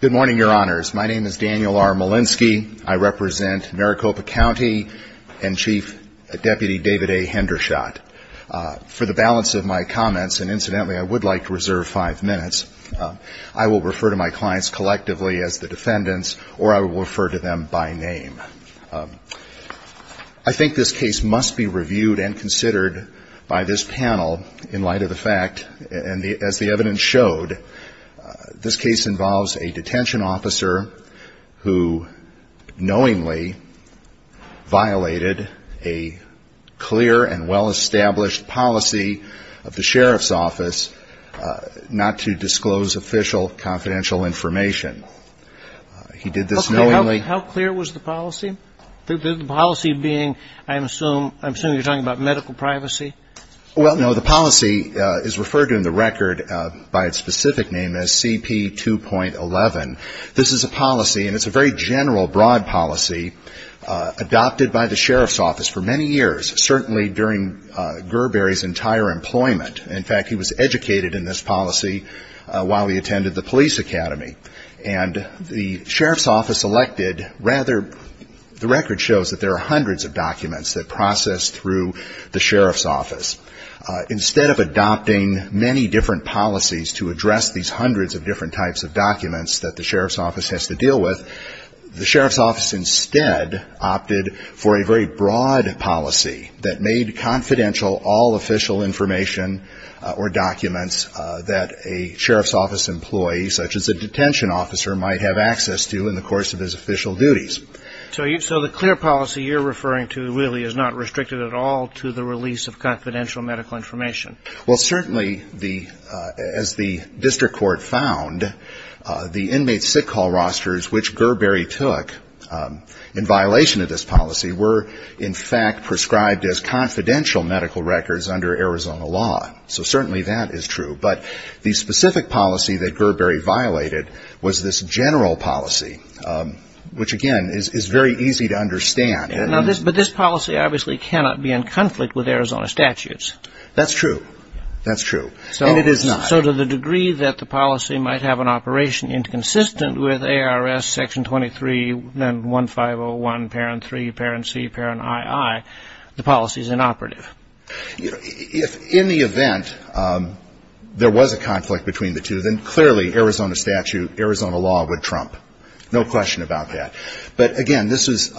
Good morning, your honors. My name is Daniel R. Molenski. I represent Maricopa County and chief deputy David A. Henderson. For the balance of my comments, and incidentally, I would like to reserve five minutes, I will refer to my clients collectively as the defendants or I will refer to them by name. I think this case must be reviewed and considered by this panel in light of the fact, and as the evidence showed, that the defendant is not guilty. This case involves a detention officer who knowingly violated a clear and well-established policy of the sheriff's office not to disclose official confidential information. He did this knowingly. How clear was the policy? The policy being, I assume, I assume you're talking about medical privacy? Well, no, the policy is referred to in the record by its specific name as CP2.11. This is a policy, and it's a very general, broad policy, adopted by the sheriff's office for many years, certainly during Gerberi's entire employment. In fact, he was educated in this policy while he attended the police academy. And the sheriff's office elected, rather, the record shows that there are hundreds of different types of documents that the sheriff's office has to deal with. The sheriff's office instead opted for a very broad policy that made confidential all official information or documents that a sheriff's office employee, such as a detention officer, might have access to in the course of his official duties. So the clear policy you're referring to really is not restricted at all to the release of confidential medical information? Well, certainly, as the district court found, the inmate's sick call rosters, which Gerberi took in violation of this policy, were, in fact, prescribed as confidential medical records under Arizona law. So certainly that is true. But the specific policy that Gerberi violated was this general policy, which, again, is very easy to understand. But this policy obviously cannot be in conflict with Arizona statutes. That's true. That's true. And it is not. So to the degree that the policy might have an operation inconsistent with ARS section 23, then 1501, parent 3, parent C, parent II, the policy is inoperative? If in the event there was a conflict between the two, then clearly Arizona statute, Arizona law would trump. No question about that. But, again, this was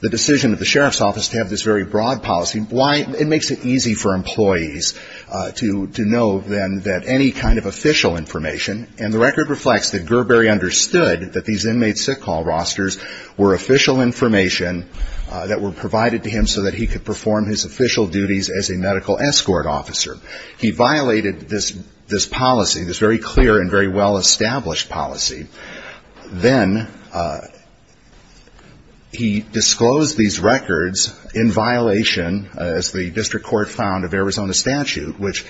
the decision of the sheriff's office to have this very broad policy. It makes it easy for employees to know, then, that any kind of official information. And the record reflects that Gerberi understood that these inmate's sick call rosters were official information that were provided to him so that he could perform his official duties as a medical escort officer. He violated this policy, this very clear and very well-established policy. Then he disclosed these records in violation, as the district court found, of Arizona statute, which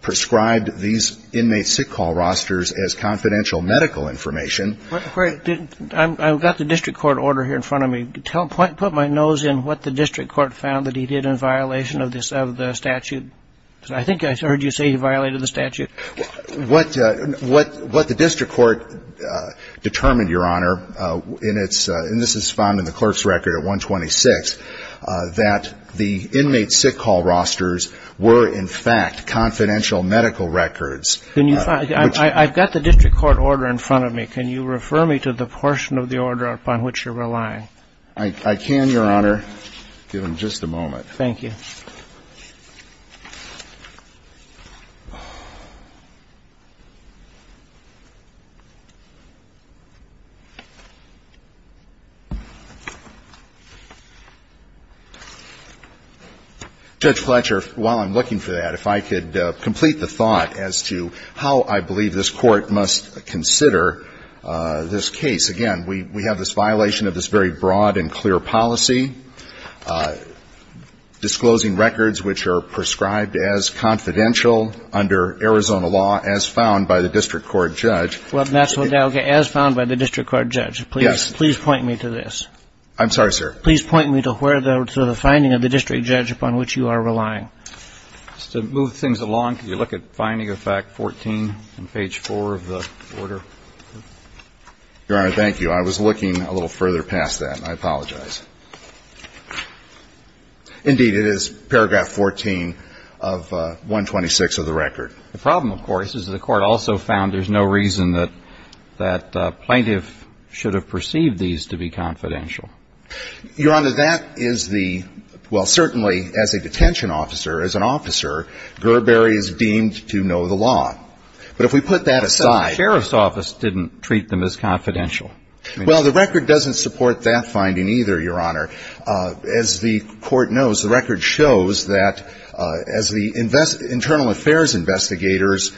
prescribed these inmate's sick call rosters as confidential medical information. I've got the district court order here in front of me. Put my nose in what the district court found that he did in violation of the statute. I think I heard you say he violated the statute. What the district court determined, Your Honor, and this is found in the clerk's record at 126, that the inmate's sick call rosters were, in fact, confidential medical records. And I think that's the reason why I'm asking you to refer me to the portion of the order upon which you're relying. I can, Your Honor, give him just a moment. Thank you. Judge Fletcher, while I'm looking for that, if I could complete the thought as to how I believe this Court must consider this case. Again, we have this violation of this very broad and clear policy. Disclosing records which are prescribed as confidential under Arizona law, as found by the district court judge. Well, that's what, as found by the district court judge. Yes. Please point me to this. I'm sorry, sir. Please point me to the finding of the district judge upon which you are relying. Just to move things along, can you look at finding of fact 14 on page 4 of the order? Your Honor, thank you. I was looking a little further past that. I apologize. Indeed, it is paragraph 14 of 126 of the record. The problem, of course, is that the Court also found there's no reason that plaintiff should have perceived these to be confidential. Your Honor, that is the, well, certainly, as a detention officer, as an officer, Gerberi is deemed to know the law. But if we put that aside. The sheriff's office didn't treat them as confidential. Well, the record doesn't support that finding either, Your Honor. As the Court knows, the record shows that as the internal affairs investigators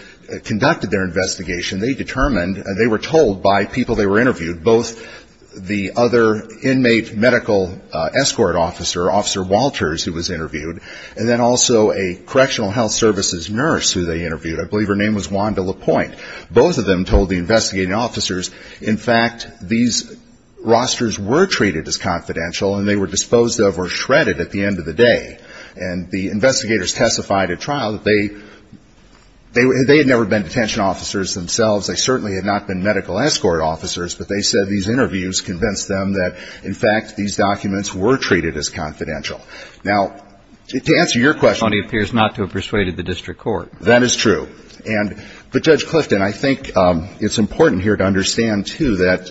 conducted their investigation, they determined, they were told by people they were interviewed, both the other individuals who were involved in the investigation, and the other individuals who were not. There was an inmate medical escort officer, Officer Walters, who was interviewed, and then also a correctional health services nurse who they interviewed. I believe her name was Wanda LaPointe. Both of them told the investigating officers, in fact, these rosters were treated as confidential, and they were disposed of or shredded at the end of the day. And the investigators testified at trial that they had never been detention officers themselves. They certainly had not been medical escort officers, but they said these interviews convinced them that, in fact, these documents were treated as confidential. Now, to answer your question. It only appears not to have persuaded the district court. That is true. But, Judge Clifton, I think it's important here to understand, too, that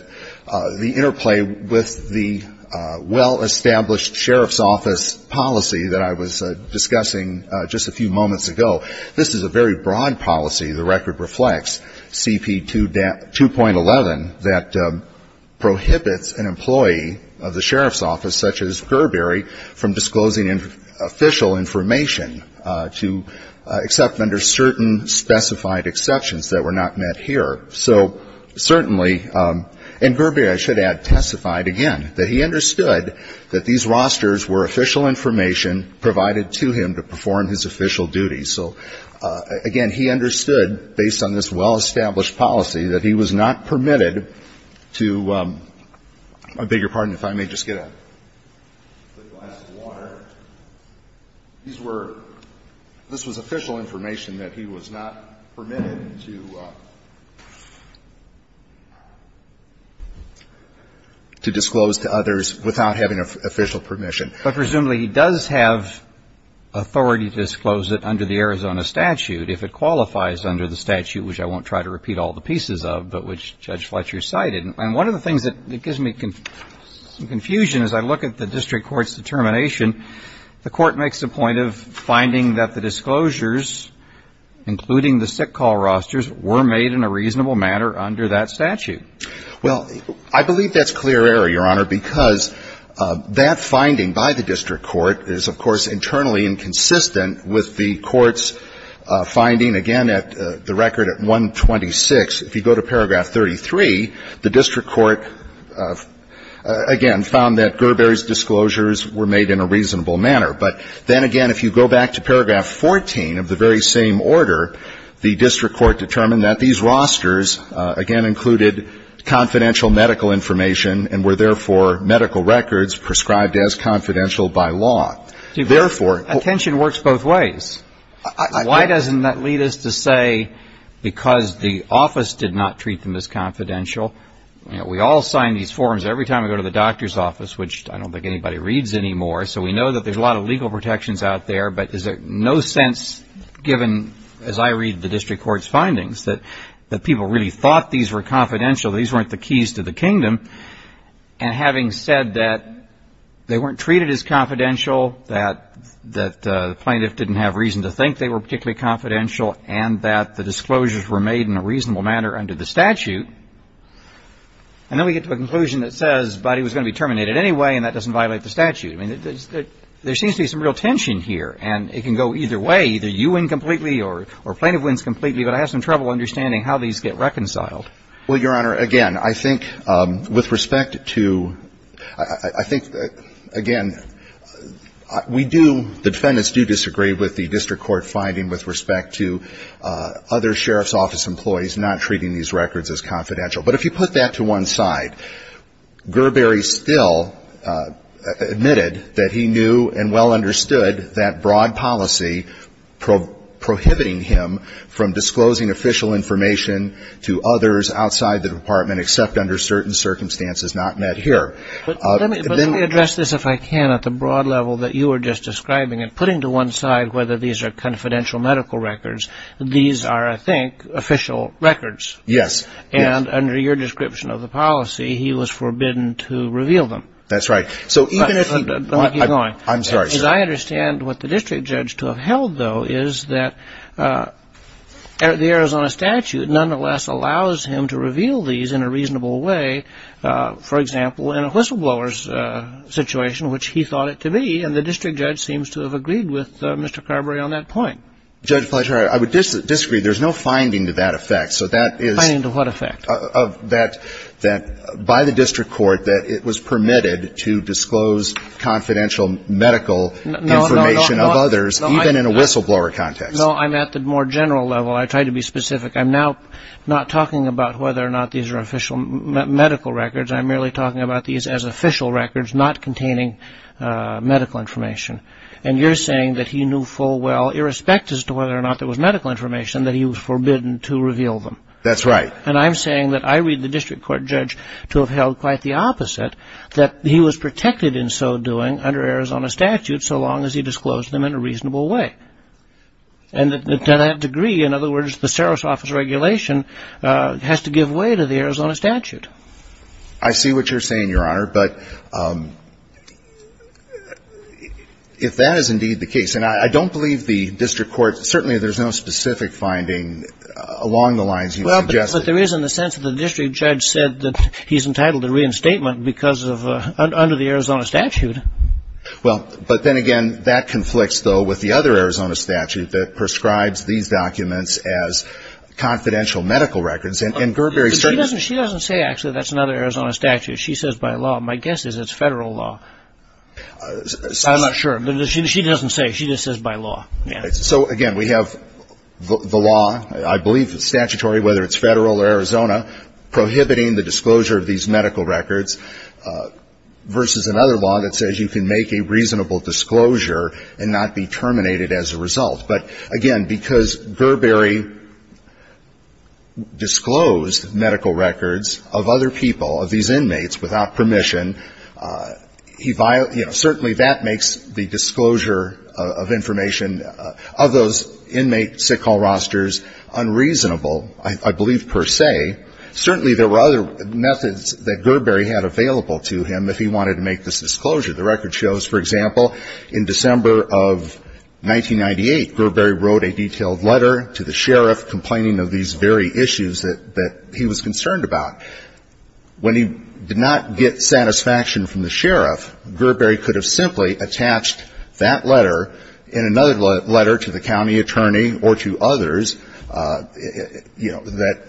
the interplay with the well-established sheriff's office policy that I was discussing just a few moments ago, this is a very broad policy. The record reflects CP2.11 that prohibits an employee of the sheriff's office, such as Gerberi, from disclosing official information to accept under certain specified exceptions that were not met here. So certainly, and Gerberi, I should add, testified, again, that he understood that these rosters were official information provided to him to perform his official duties. So, again, he understood, based on this well-established policy, that he was not permitted to – I beg your pardon if I may just get a glass of water. These were – this was official information that he was not permitted to disclose to others without having official permission. But, presumably, he does have authority to disclose it under the Arizona statute if it qualifies under the statute, which I won't try to repeat all the pieces of, but which Judge Fletcher cited. And one of the things that gives me some confusion as I look at the district court's determination, the court makes the point of finding that the disclosures, including the sick call rosters, were made in a reasonable manner under that statute. Well, I believe that's clear error, Your Honor, because that finding by the district court is, of course, internally inconsistent with the court's finding, again, at the record at 126. If you go to paragraph 33, the district court, again, found that Gerberi's disclosures were made in a reasonable manner. But then, again, if you go back to paragraph 14 of the very same order, the district court determined that these rosters, again, included confidential medical information and were, therefore, medical records prescribed as confidential by law. Therefore – Attention works both ways. Why doesn't that lead us to say because the office did not treat them as confidential? We all sign these forms every time we go to the doctor's office, which I don't think anybody reads anymore, so we know that there's a lot of legal protections out there. But is there no sense, given, as I read the district court's findings, that people really thought these were confidential, these weren't the keys to the kingdom? And having said that they weren't treated as confidential, that the plaintiff didn't have reason to think they were particularly confidential, and that the disclosures were made in a reasonable manner under the statute, and then we get to a conclusion that says, but he was going to be terminated anyway, and that doesn't violate the statute. I mean, there seems to be some real tension here, and it can go either way. Either you win completely or a plaintiff wins completely, but I have some trouble understanding how these get reconciled. Well, Your Honor, again, I think with respect to, I think, again, we do, the defendants do disagree with the district court finding with respect to other sheriff's office employees not treating these records as confidential. But if you put that to one side, Gerberi still admitted that he knew and well understood that broad policy prohibiting him from disclosing official information to others outside of the district court. But let me address this if I can at the broad level that you were just describing. And putting to one side whether these are confidential medical records, these are, I think, official records. Yes. And under your description of the policy, he was forbidden to reveal them. That's right. But let me keep going. I'm sorry, sir. Because I understand what the district judge to have held, though, is that the Arizona statute nonetheless allows him to reveal these in a reasonable way, for example, in a whistleblower's situation, which he thought it to be. And the district judge seems to have agreed with Mr. Gerberi on that point. Judge Fletcher, I would disagree. There's no finding to that effect. Finding to what effect? By the district court that it was permitted to disclose confidential medical information of others, even in a whistleblower context. No, I'm at the more general level. I tried to be specific. I'm now not talking about whether or not these are official medical records. I'm merely talking about these as official records not containing medical information. And you're saying that he knew full well, irrespective of whether or not there was medical information, that he was forbidden to reveal them. That's right. And I'm saying that I read the district court judge to have held quite the opposite, that he was protected in so doing under Arizona statute so long as he disclosed them in a reasonable way. And to that degree, in other words, the Saros Office regulation has to give way to the Arizona statute. I see what you're saying, Your Honor. But if that is indeed the case, and I don't believe the district court, certainly there's no specific finding along the lines you suggested. Well, but there is in the sense that the district judge said that he's entitled to reinstatement because of, under the Arizona statute. Well, but then again, that conflicts, though, with the other Arizona statute that prescribes these documents as confidential medical records. And Gerber is saying... She doesn't say actually that's another Arizona statute. She says by law. My guess is it's federal law. I'm not sure. She doesn't say. She just says by law. So, again, we have the law. I believe it's statutory, whether it's federal or Arizona, prohibiting the disclosure of these medical records versus another law that says you can make a reasonable disclosure and not be terminated as a result. But, again, because Gerber disclosed medical records of other people, of these inmates, without permission, certainly that makes the disclosure of information of those inmate sick hall rosters unreasonable, I believe, per se. Certainly there were other methods that Gerber had available to him if he wanted to make this disclosure. The record shows, for example, in December of 1998, Gerber wrote a detailed letter to the sheriff complaining of these very issues that he was concerned about. When he did not get satisfaction from the sheriff, Gerber could have simply attached that letter and another letter to the county attorney or to others, you know, that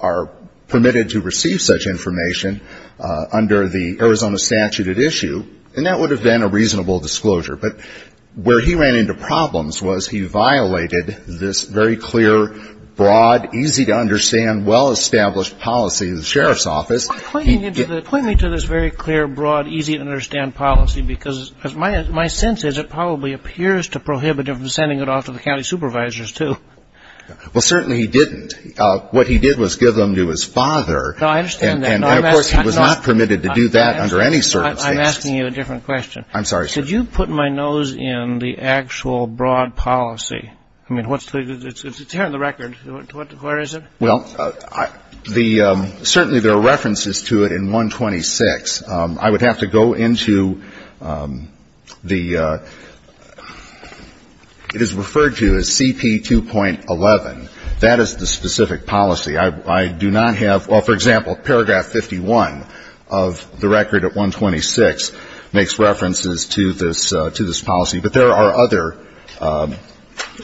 are permitted to receive such information under the Arizona statute at issue. And that would have been a reasonable disclosure. But where he ran into problems was he violated this very clear, broad, easy-to-understand, well-established policy of the sheriff's office. Point me to this very clear, broad, easy-to-understand policy, because my sense is it probably appears to prohibit him from sending it off to the county supervisors, too. Well, certainly he didn't. What he did was give them to his father. No, I understand that. And, of course, he was not permitted to do that under any circumstances. I'm asking you a different question. I'm sorry, sir. Did you put my nose in the actual broad policy? I mean, it's here in the record. Where is it? Well, certainly there are references to it in 126. I would have to go into the ‑‑ it is referred to as CP2.11. That is the specific policy. I do not have ‑‑ well, for example, paragraph 51 of the record at 126 makes references to this policy. But there are other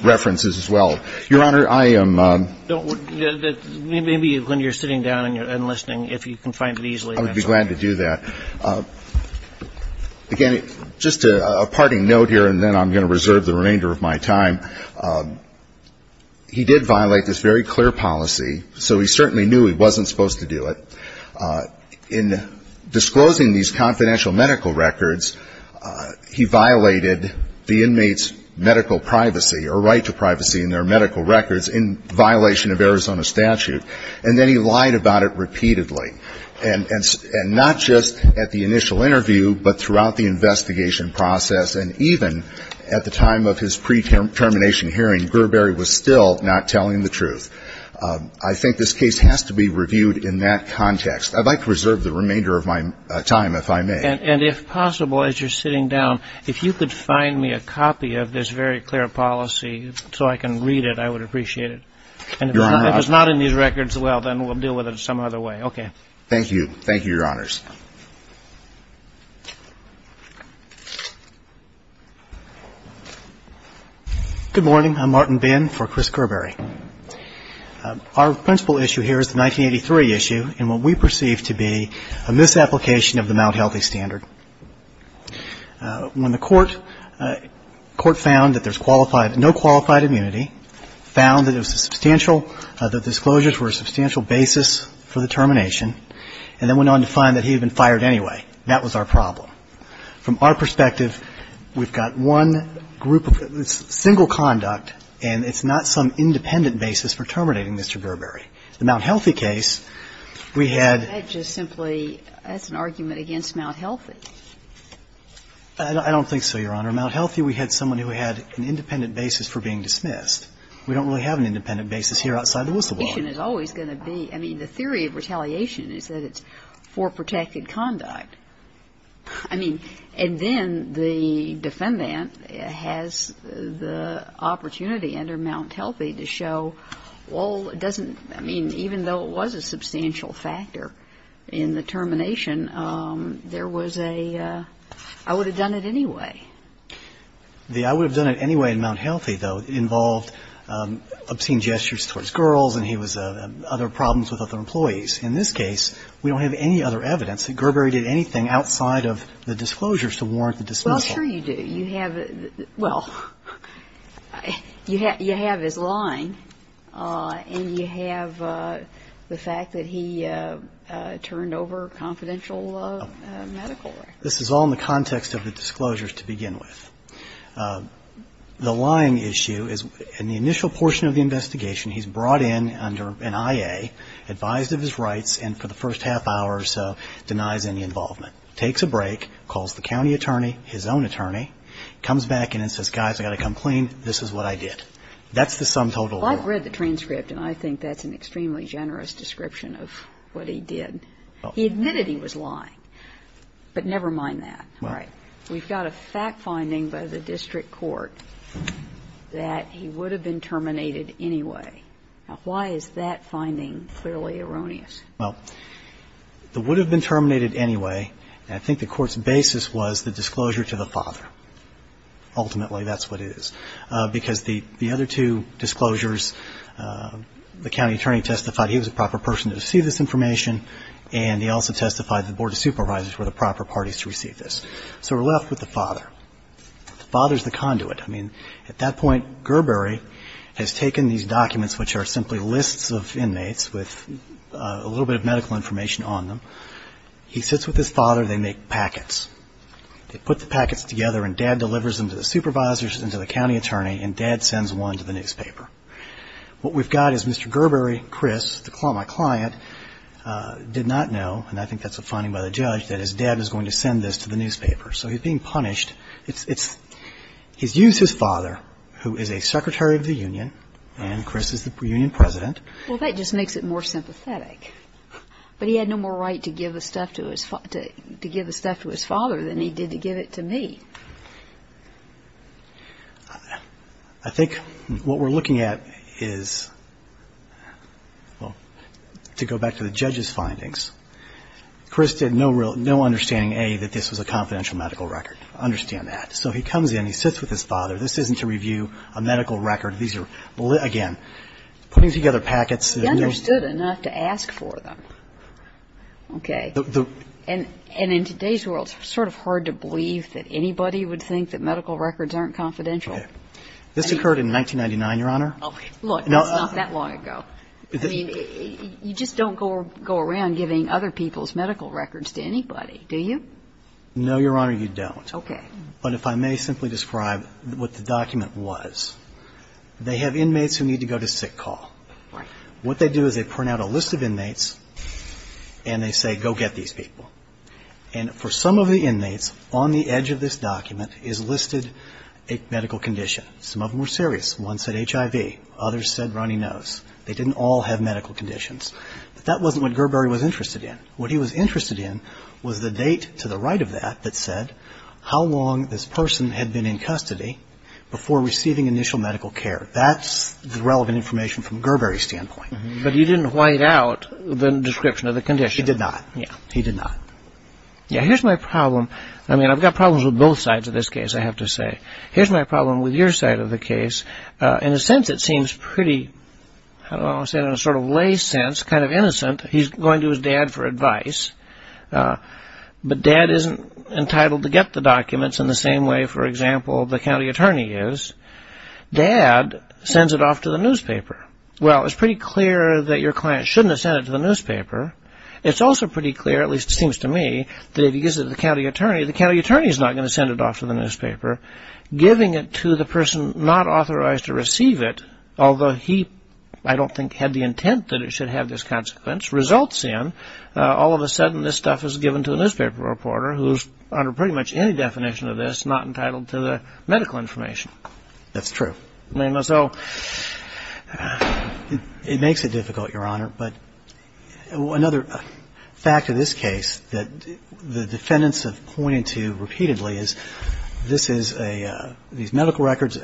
references as well. Your Honor, I am ‑‑ Maybe when you're sitting down and listening, if you can find it easily. I would be glad to do that. Again, just a parting note here, and then I'm going to reserve the remainder of my time. He did violate this very clear policy, so he certainly knew he wasn't supposed to do it. In disclosing these confidential medical records, he violated the inmate's medical privacy or right to privacy in their medical records in violation of Arizona statute. And then he lied about it repeatedly. And not just at the initial interview, but throughout the investigation process, and even at the time of his pre‑termination hearing, Gerberi was still not telling the truth. I think this case has to be reviewed in that context. I'd like to reserve the remainder of my time, if I may. And if possible, as you're sitting down, if you could find me a copy of this very clear policy so I can read it, I would appreciate it. If it's not in these records, well, then we'll deal with it some other way. Okay. Thank you. Thank you, Your Honors. Good morning. I'm Martin Bin for Chris Gerberi. Our principal issue here is the 1983 issue in what we perceive to be a misapplication of the Mount Healthy Standard. When the court found that there's qualified ‑‑ no qualified immunity, found that it was substantial, that disclosures were a substantial basis for the termination, and then went on to find that he had been fired anyway, that was our problem. From our perspective, we've got one group of ‑‑ single conduct, and it's not some independent basis for terminating Mr. Gerberi. The Mount Healthy case, we had ‑‑ I don't think so, Your Honor. Mount Healthy, we had someone who had an independent basis for being dismissed. We don't really have an independent basis here outside the whistleblower. I mean, the theory of retaliation is that it's for protected conduct. I mean, and then the defendant has the opportunity under Mount Healthy to show, well, it doesn't ‑‑ I mean, even though it was a substantial factor in the termination, there was a I would have done it anyway. The I would have done it anyway in Mount Healthy, though, involved obscene gestures towards girls, and he was ‑‑ other problems with other employees. In this case, we don't have any other evidence that Gerberi did anything outside of the disclosures to warrant the dismissal. Well, sure you do. You have his lying, and you have the fact that he turned over confidential medical records. This is all in the context of the disclosures to begin with. The lying issue is in the initial portion of the investigation, he's brought in under an IA, advised of his rights, and for the first half hour or so denies any involvement. Takes a break, calls the county attorney, his own attorney, comes back and says, guys, I've got to come clean, this is what I did. That's the sum total. Well, I've read the transcript, and I think that's an extremely generous description of what he did. He admitted he was lying, but never mind that. All right. We've got a fact finding by the district court that he would have been terminated anyway. Now, why is that finding clearly erroneous? Well, the would have been terminated anyway, and I think the court's basis was the disclosure to the father. Ultimately, that's what it is, because the other two disclosures, the county attorney testified he was a proper person to receive this information, and he also testified the board of supervisors were the proper parties to receive this. So we're left with the father. The father's the conduit. I mean, at that point Gerberi has taken these documents, which are simply lists of inmates with a little bit of medical information on them. He sits with his father. They make packets. They put the packets together, and dad delivers them to the supervisors and to the county attorney, and dad sends one to the newspaper. What we've got is Mr. Gerberi, Chris, the client, did not know, and I think that's a finding by the judge, that his dad was going to send this to the newspaper. So he's being punished. He's used his father, who is a secretary of the union, and Chris is the union president. Well, that just makes it more sympathetic. But he had no more right to give the stuff to his father than he did to give it to me. I think what we're looking at is, well, to go back to the judge's findings, Chris had no understanding, A, that this was a confidential medical record. I understand that. So he comes in. He sits with his father. This isn't to review a medical record. These are, again, putting together packets. He understood enough to ask for them. Okay. And in today's world, it's sort of hard to believe that anybody would think that medical records aren't confidential. Okay. This occurred in 1999, Your Honor. Look, it's not that long ago. I mean, you just don't go around giving other people's medical records to anybody, do you? No, Your Honor, you don't. Okay. But if I may simply describe what the document was, they have inmates who need to go to sick call. Right. What they do is they print out a list of inmates, and they say, go get these people. And for some of the inmates, on the edge of this document is listed a medical condition. Some of them were serious. One said HIV. Others said runny nose. They didn't all have medical conditions. But that wasn't what Gerberi was interested in. What he was interested in was the date to the right of that that said, how long this person had been in custody before receiving initial medical care. That's the relevant information from Gerberi's standpoint. But he didn't white out the description of the condition. He did not. Yeah. He did not. Yeah. Here's my problem. I mean, I've got problems with both sides of this case, I have to say. Here's my problem with your side of the case. In a sense, it seems pretty, how do I want to say it, in a sort of lay sense, kind of innocent. He's going to his dad for advice. But dad isn't entitled to get the documents in the same way, for example, the county attorney is. Dad sends it off to the newspaper. Well, it's pretty clear that your client shouldn't have sent it to the newspaper. It's also pretty clear, at least it seems to me, that if he gives it to the county attorney, the county attorney is not going to send it off to the newspaper. Giving it to the person not authorized to receive it, although he, I don't think, had the intent that it should have this consequence, results in all of a sudden this stuff is given to a newspaper reporter who's under pretty much any definition of this not entitled to the medical information. That's true. So it makes it difficult, Your Honor. But another fact of this case that the defendants have pointed to repeatedly is this is a, these medical records,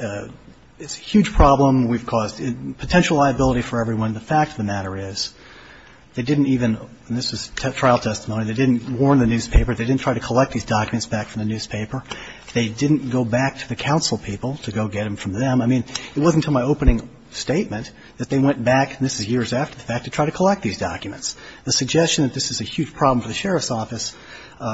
it's a huge problem. We've caused potential liability for everyone. The fact of the matter is they didn't even, and this was trial testimony, they didn't warn the newspaper, they didn't try to collect these documents back from the newspaper. They didn't go back to the counsel people to go get them from them. I mean, it wasn't until my opening statement that they went back, and this is years after the fact, to try to collect these documents. The suggestion that this is a huge problem for the sheriff's office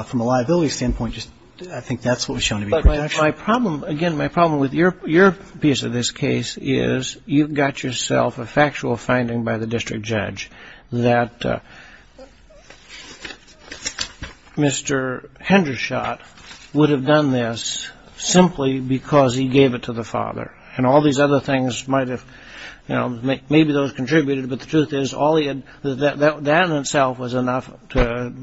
from a liability standpoint, I think that's what was shown to be protection. But my problem, again, my problem with your piece of this case is you've got yourself a factual finding by the district judge that Mr. Hendershot would have done this simply because he gave it to the father. And all these other things might have, you know, maybe those contributed, but the truth is that in itself was enough to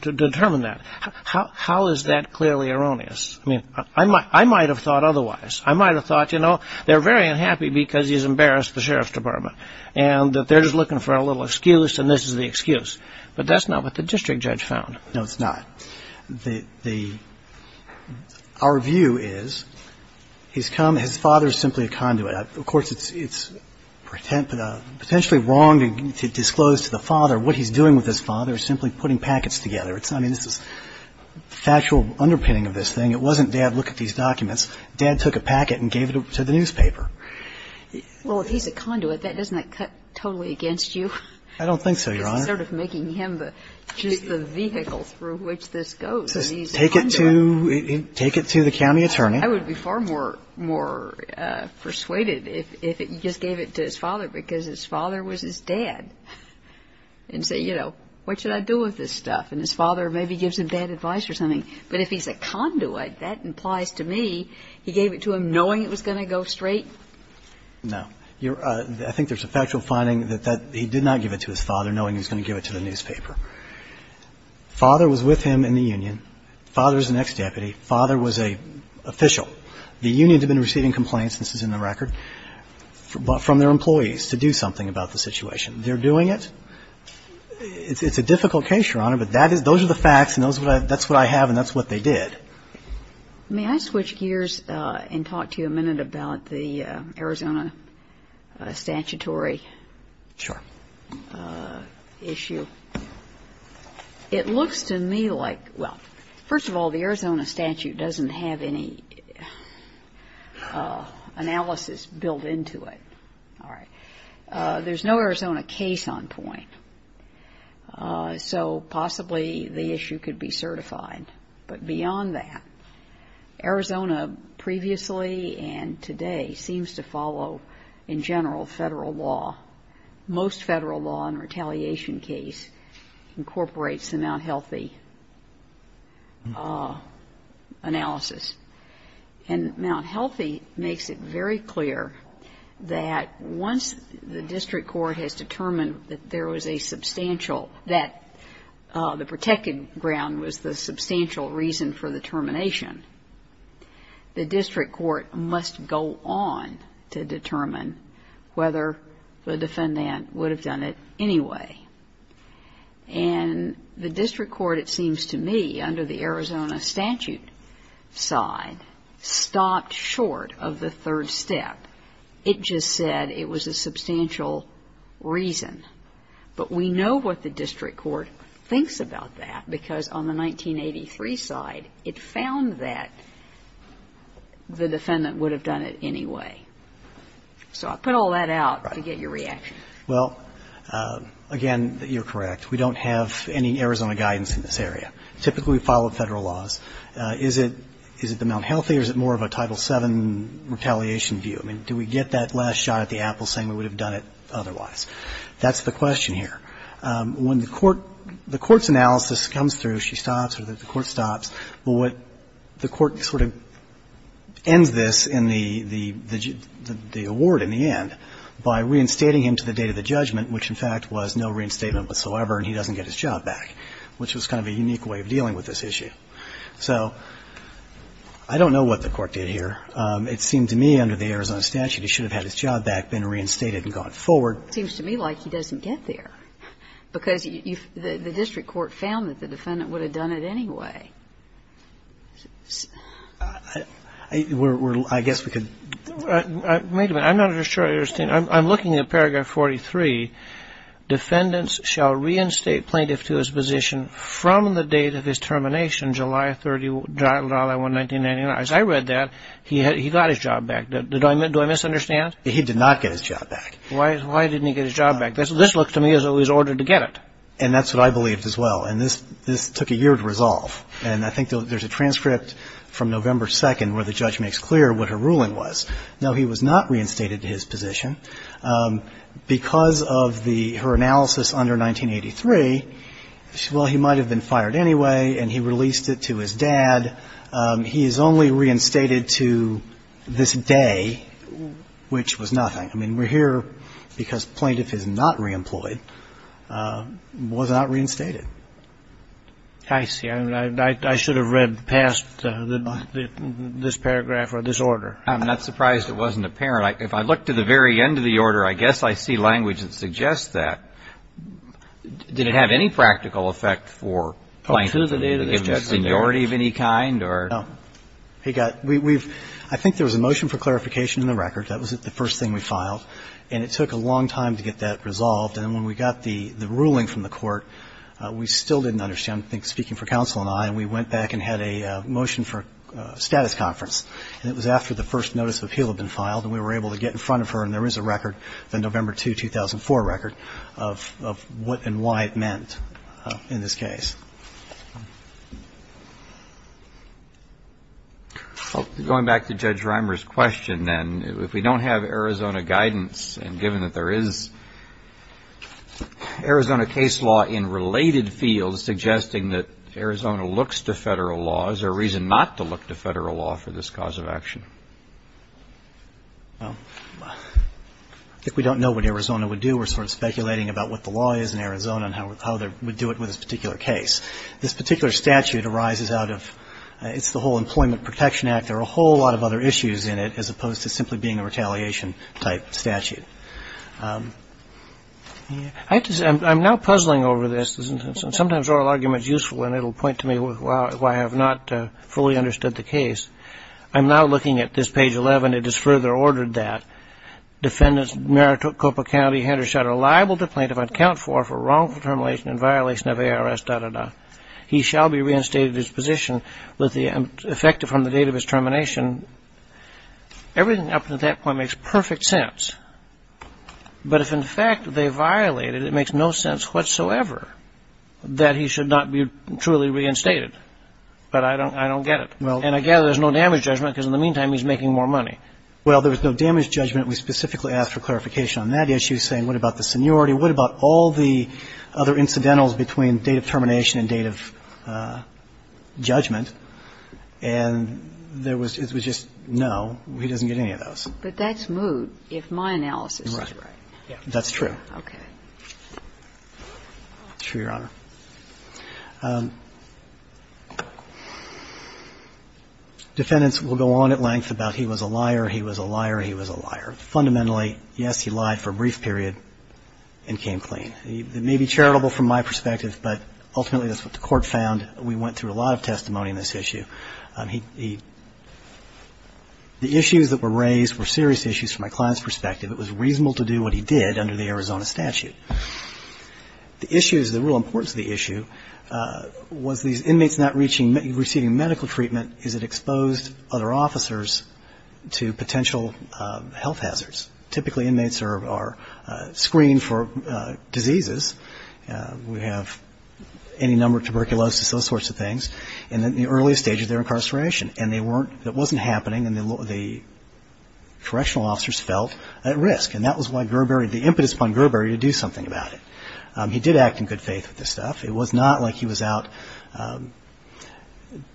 determine that. How is that clearly erroneous? I mean, I might have thought otherwise. I might have thought, you know, they're very unhappy because he's embarrassed the sheriff's department, and that they're just looking for a little excuse, and this is the excuse. But that's not what the district judge found. No, it's not. Our view is his father is simply a conduit. Of course, it's potentially wrong to disclose to the father what he's doing with his father, simply putting packets together. I mean, this is factual underpinning of this thing. It wasn't, Dad, look at these documents. Dad took a packet and gave it to the newspaper. Well, if he's a conduit, doesn't that cut totally against you? I don't think so, Your Honor. This is sort of making him the vehicle through which this goes. Take it to the county attorney. I would be far more persuaded if he just gave it to his father because his father was his dad, and say, you know, what should I do with this stuff? And his father maybe gives him bad advice or something. But if he's a conduit, that implies to me he gave it to him knowing it was going to go straight. No. I think there's a factual finding that he did not give it to his father knowing he was going to give it to the newspaper. Father was with him in the union. Father is an ex-deputy. Father was an official. The union had been receiving complaints, this is in the record, from their employees to do something about the situation. They're doing it. It's a difficult case, Your Honor, but those are the facts, and that's what I have, and that's what they did. May I switch gears and talk to you a minute about the Arizona statutory issue? Sure. It looks to me like, well, first of all, the Arizona statute doesn't have any analysis built into it. All right. There's no Arizona case on point, so possibly the issue could be certified. But beyond that, Arizona previously and today seems to follow, in general, federal law. Most federal law in a retaliation case incorporates the Mount Healthy analysis. And Mount Healthy makes it very clear that once the district court has determined that there was a substantial, that the protected ground was the substantial reason for the termination, the district court must go on to determine whether the defendant would have done it anyway. And the district court, it seems to me, under the Arizona statute side, stopped short of the third step. It just said it was a substantial reason. But we know what the district court thinks about that, because on the 1983 side, it found that the defendant would have done it anyway. So I put all that out to get your reaction. Well, again, you're correct. We don't have any Arizona guidance in this area. Typically we follow federal laws. Is it the Mount Healthy, or is it more of a Title VII retaliation view? I mean, do we get that last shot at the apple saying we would have done it otherwise? That's the question here. When the court's analysis comes through, she stops or the court stops. Well, what the court sort of ends this in the award in the end by reinstating him to the date of the judgment, which, in fact, was no reinstatement whatsoever and he doesn't get his job back, which was kind of a unique way of dealing with this issue. So I don't know what the court did here. It seemed to me under the Arizona statute, he should have had his job back, been reinstated and gone forward. It seems to me like he doesn't get there, because the district court found that the defendant would have done it anyway. I guess we could. Wait a minute. I'm not sure I understand. I'm looking at paragraph 43. Defendants shall reinstate plaintiff to his position from the date of his termination, July 30, 1999. As I read that, he got his job back. Do I misunderstand? He did not get his job back. Why didn't he get his job back? This looks to me as though he was ordered to get it. And that's what I believed as well. And this took a year to resolve. And I think there's a transcript from November 2 where the judge makes clear what her ruling was. No, he was not reinstated to his position. Because of her analysis under 1983, well, he might have been fired anyway and he released it to his dad. He is only reinstated to this day, which was nothing. I mean, we're here because plaintiff is not reemployed, was not reinstated. I see. I should have read past this paragraph or this order. I'm not surprised it wasn't apparent. If I look to the very end of the order, I guess I see language that suggests that. Did it have any practical effect for plaintiff to give the seniority of any kind? No. I think there was a motion for clarification in the record. That was the first thing we filed. And it took a long time to get that resolved. And when we got the ruling from the court, we still didn't understand. I think speaking for counsel and I, we went back and had a motion for a status conference. And it was after the first notice of appeal had been filed. And we were able to get in front of her, and there is a record, the November 2, 2004 record, of what and why it meant in this case. Going back to Judge Reimer's question, then, if we don't have Arizona guidance, and given that there is Arizona case law in related fields suggesting that Arizona looks to federal law, is there a reason not to look to federal law for this cause of action? I think we don't know what Arizona would do. We're sort of speculating about what the law is in Arizona and how they would do it with this particular case. This particular statute arises out of the whole Employment Protection Act. There are a whole lot of other issues in it as opposed to simply being a retaliation type statute. I'm now puzzling over this. Sometimes oral argument is useful, and it will point to me why I have not fully understood the case. I'm now looking at this page 11. It is further ordered that defendants, Maricopa County, Hendershot, are liable to plaintiff on account for, for wrongful termination and violation of ARS, da, da, da. He shall be reinstated at his position with the effective from the date of his termination. Everything up to that point makes perfect sense. But if, in fact, they violate it, it makes no sense whatsoever that he should not be truly reinstated. But I don't get it. And I gather there's no damage judgment because in the meantime he's making more money. Well, there was no damage judgment. We specifically asked for clarification on that issue, saying what about the seniority, what about all the other incidentals between date of termination and date of judgment. And there was, it was just, no, he doesn't get any of those. But that's moot if my analysis is right. That's true. Okay. Sure, Your Honor. Defendants will go on at length about he was a liar, he was a liar, he was a liar. Fundamentally, yes, he lied for a brief period and came clean. It may be charitable from my perspective, but ultimately that's what the court found. We went through a lot of testimony on this issue. He, the issues that were raised were serious issues from my client's perspective. It was reasonable to do what he did under the Arizona statute. The issues, the real importance of the issue was these inmates not reaching, receiving medical treatment as it exposed other officers to potential health hazards. Typically inmates are screened for diseases. We have any number of tuberculosis, those sorts of things, in the earliest stages of their incarceration. And they weren't, it wasn't happening and the correctional officers felt at risk. And that was why Gerber, the impetus upon Gerber to do something about it. He did act in good faith with this stuff. It was not like he was out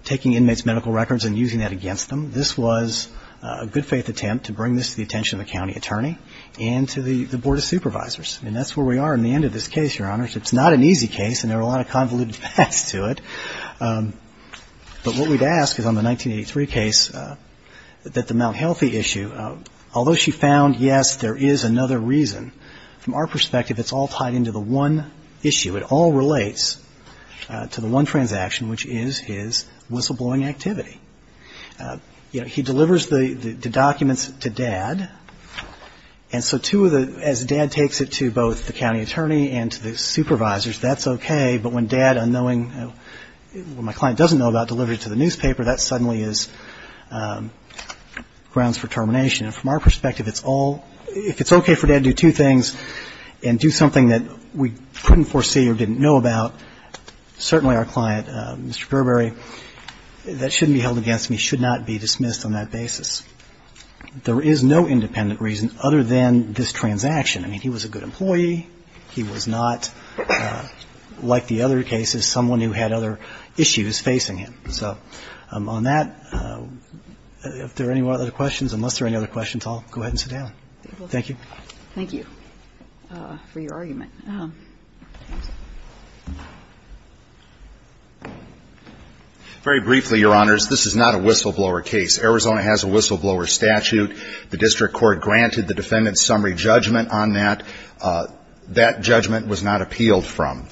taking inmates' medical records and using that against them. This was a good faith attempt to bring this to the attention of the county attorney and to the Board of Supervisors. And that's where we are in the end of this case, Your Honors. It's not an easy case and there are a lot of convoluted facts to it. But what we'd ask is on the 1983 case that the Mount Healthy issue, although she found, yes, there is another reason, from our perspective it's all tied into the one issue. It all relates to the one transaction, which is his whistleblowing activity. You know, he delivers the documents to Dad. And so two of the, as Dad takes it to both the county attorney and to the supervisors, that's okay. But when Dad, unknowing, when my client doesn't know about delivering it to the newspaper, that suddenly is grounds for termination. And from our perspective, it's all, if it's okay for Dad to do two things and do something that we couldn't foresee or didn't know about, certainly our client, Mr. Gerber, that shouldn't be held against me, should not be dismissed on that basis. There is no independent reason other than this transaction. I mean, he was a good employee. He was not, like the other cases, someone who had other issues facing him. So on that, if there are any other questions, unless there are any other questions, I'll go ahead and sit down. Thank you. Thank you for your argument. Very briefly, Your Honors, this is not a whistleblower case. Arizona has a whistleblower statute. The district court granted the defendant's summary judgment on that. That judgment was not appealed from.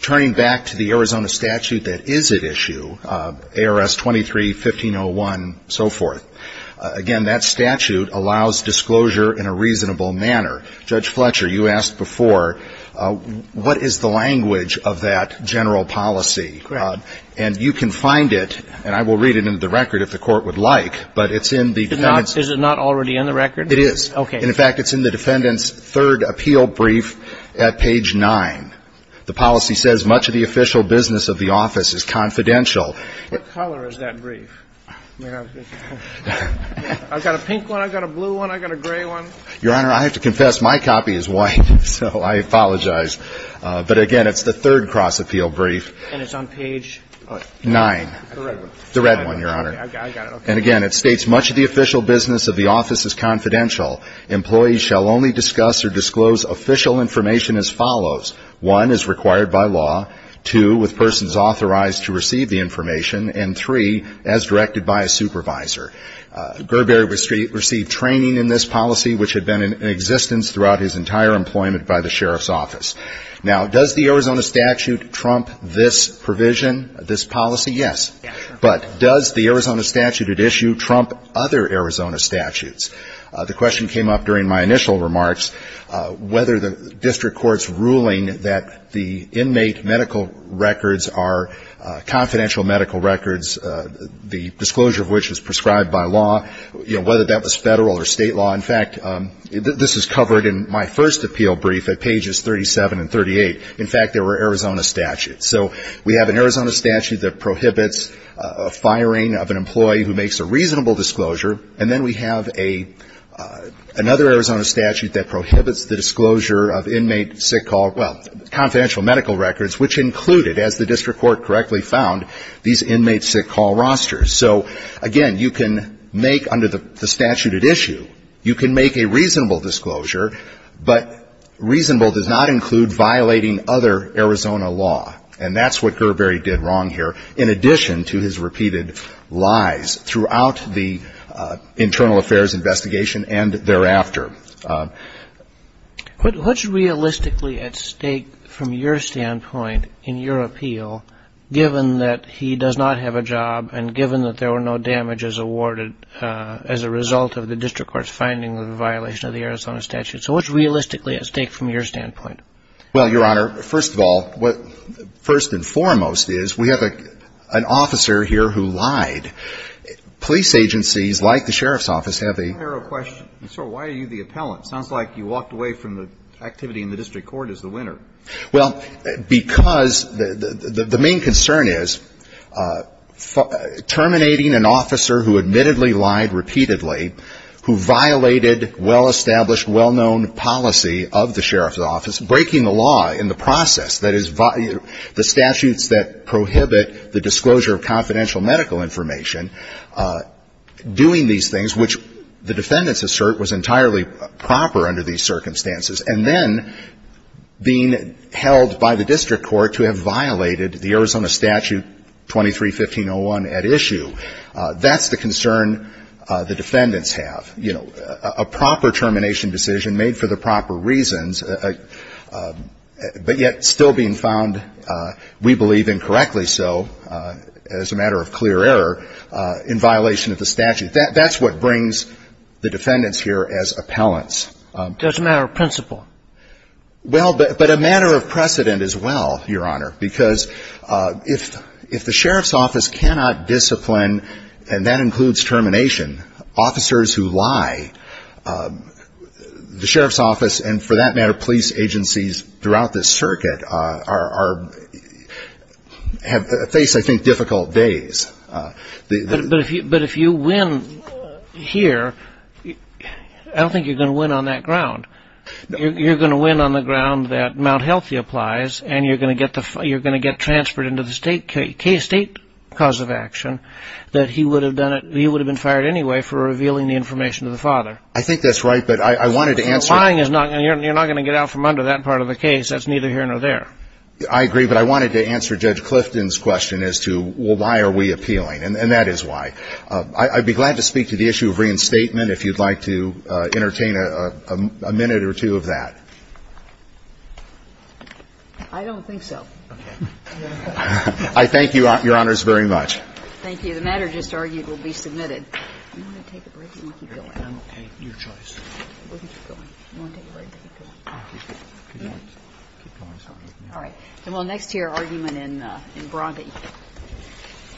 Turning back to the Arizona statute that is at issue, ARS 23-1501 and so forth, again, that statute allows disclosure in a reasonable manner. Judge Fletcher, you asked before, what is the language of that general policy? And you can find it, and I will read it into the record if the court would like, but it's in the defendant's. Is it not already in the record? It is. Okay. And, in fact, it's in the defendant's third appeal brief at page 9. The policy says much of the official business of the office is confidential. What color is that brief? I've got a pink one. I've got a blue one. I've got a gray one. Your Honor, I have to confess, my copy is white, so I apologize. But, again, it's the third cross-appeal brief. And it's on page what? 9. The red one. The red one, Your Honor. Okay, I've got it. And, again, it states much of the official business of the office is confidential. Employees shall only discuss or disclose official information as follows. One, as required by law. Two, with persons authorized to receive the information. And, three, as directed by a supervisor. Gerber received training in this policy, which had been in existence throughout his entire employment by the sheriff's office. Now, does the Arizona statute trump this provision, this policy? Yes. But does the Arizona statute at issue trump other Arizona statutes? The question came up during my initial remarks whether the district court's ruling that the inmate medical records are confidential medical records, the disclosure of which is prescribed by law, you know, whether that was federal or state law. In fact, this is covered in my first appeal brief at pages 37 and 38. In fact, there were Arizona statutes. So we have an Arizona statute that prohibits firing of an employee who makes a reasonable disclosure. And then we have another Arizona statute that prohibits the disclosure of inmate sick call, well, confidential medical records, which included, as the district court correctly found, these inmate sick call rosters. So, again, you can make under the statute at issue, you can make a reasonable disclosure, but reasonable does not include violating other Arizona law. And that's what Gerberi did wrong here, in addition to his repeated lies throughout the internal affairs investigation and thereafter. But what's realistically at stake from your standpoint in your appeal, given that he does not have a job and given that there were no damages awarded as a result of the district court's finding of the violation of the Arizona statute? So what's realistically at stake from your standpoint? Well, Your Honor, first of all, first and foremost is we have an officer here who lied. Police agencies, like the Sheriff's Office, have a Why are you the appellant? Sounds like you walked away from the activity in the district court as the winner. Well, because the main concern is terminating an officer who admittedly lied repeatedly, who violated well-established, well-known policy of the Sheriff's Office, breaking the law in the process. That is, the statutes that prohibit the disclosure of confidential medical information doing these things, which the defendants assert was entirely proper under these circumstances. And then being held by the district court to have violated the Arizona statute 23-1501 at issue. That's the concern the defendants have. You know, a proper termination decision made for the proper reasons, but yet still being found, we believe, incorrectly so as a matter of clear error in violation of the statute. That's what brings the defendants here as appellants. Just a matter of principle. Well, but a matter of precedent as well, Your Honor, because if the Sheriff's Office cannot discipline, and that includes termination, officers who lie, the Sheriff's Office and, for that matter, police agencies throughout this circuit face, I think, difficult days. But if you win here, I don't think you're going to win on that ground. You're going to win on the ground that Mount Healthy applies, and you're going to get transferred into the state cause of action, that he would have been fired anyway for revealing the information to the father. I think that's right, but I wanted to answer. Lying, you're not going to get out from under that part of the case. That's neither here nor there. I agree. But I wanted to answer Judge Clifton's question as to, well, why are we appealing? And that is why. I'd be glad to speak to the issue of reinstatement if you'd like to entertain a minute or two of that. I don't think so. Okay. I thank you, Your Honors, very much. Thank you. The matter just argued will be submitted. Do you want to take a break or do you want to keep going? I'm okay. Your choice. We'll keep going. Do you want to take a break or keep going? Keep going. Keep going. Sorry. All right. Well, next to your argument in Bronte.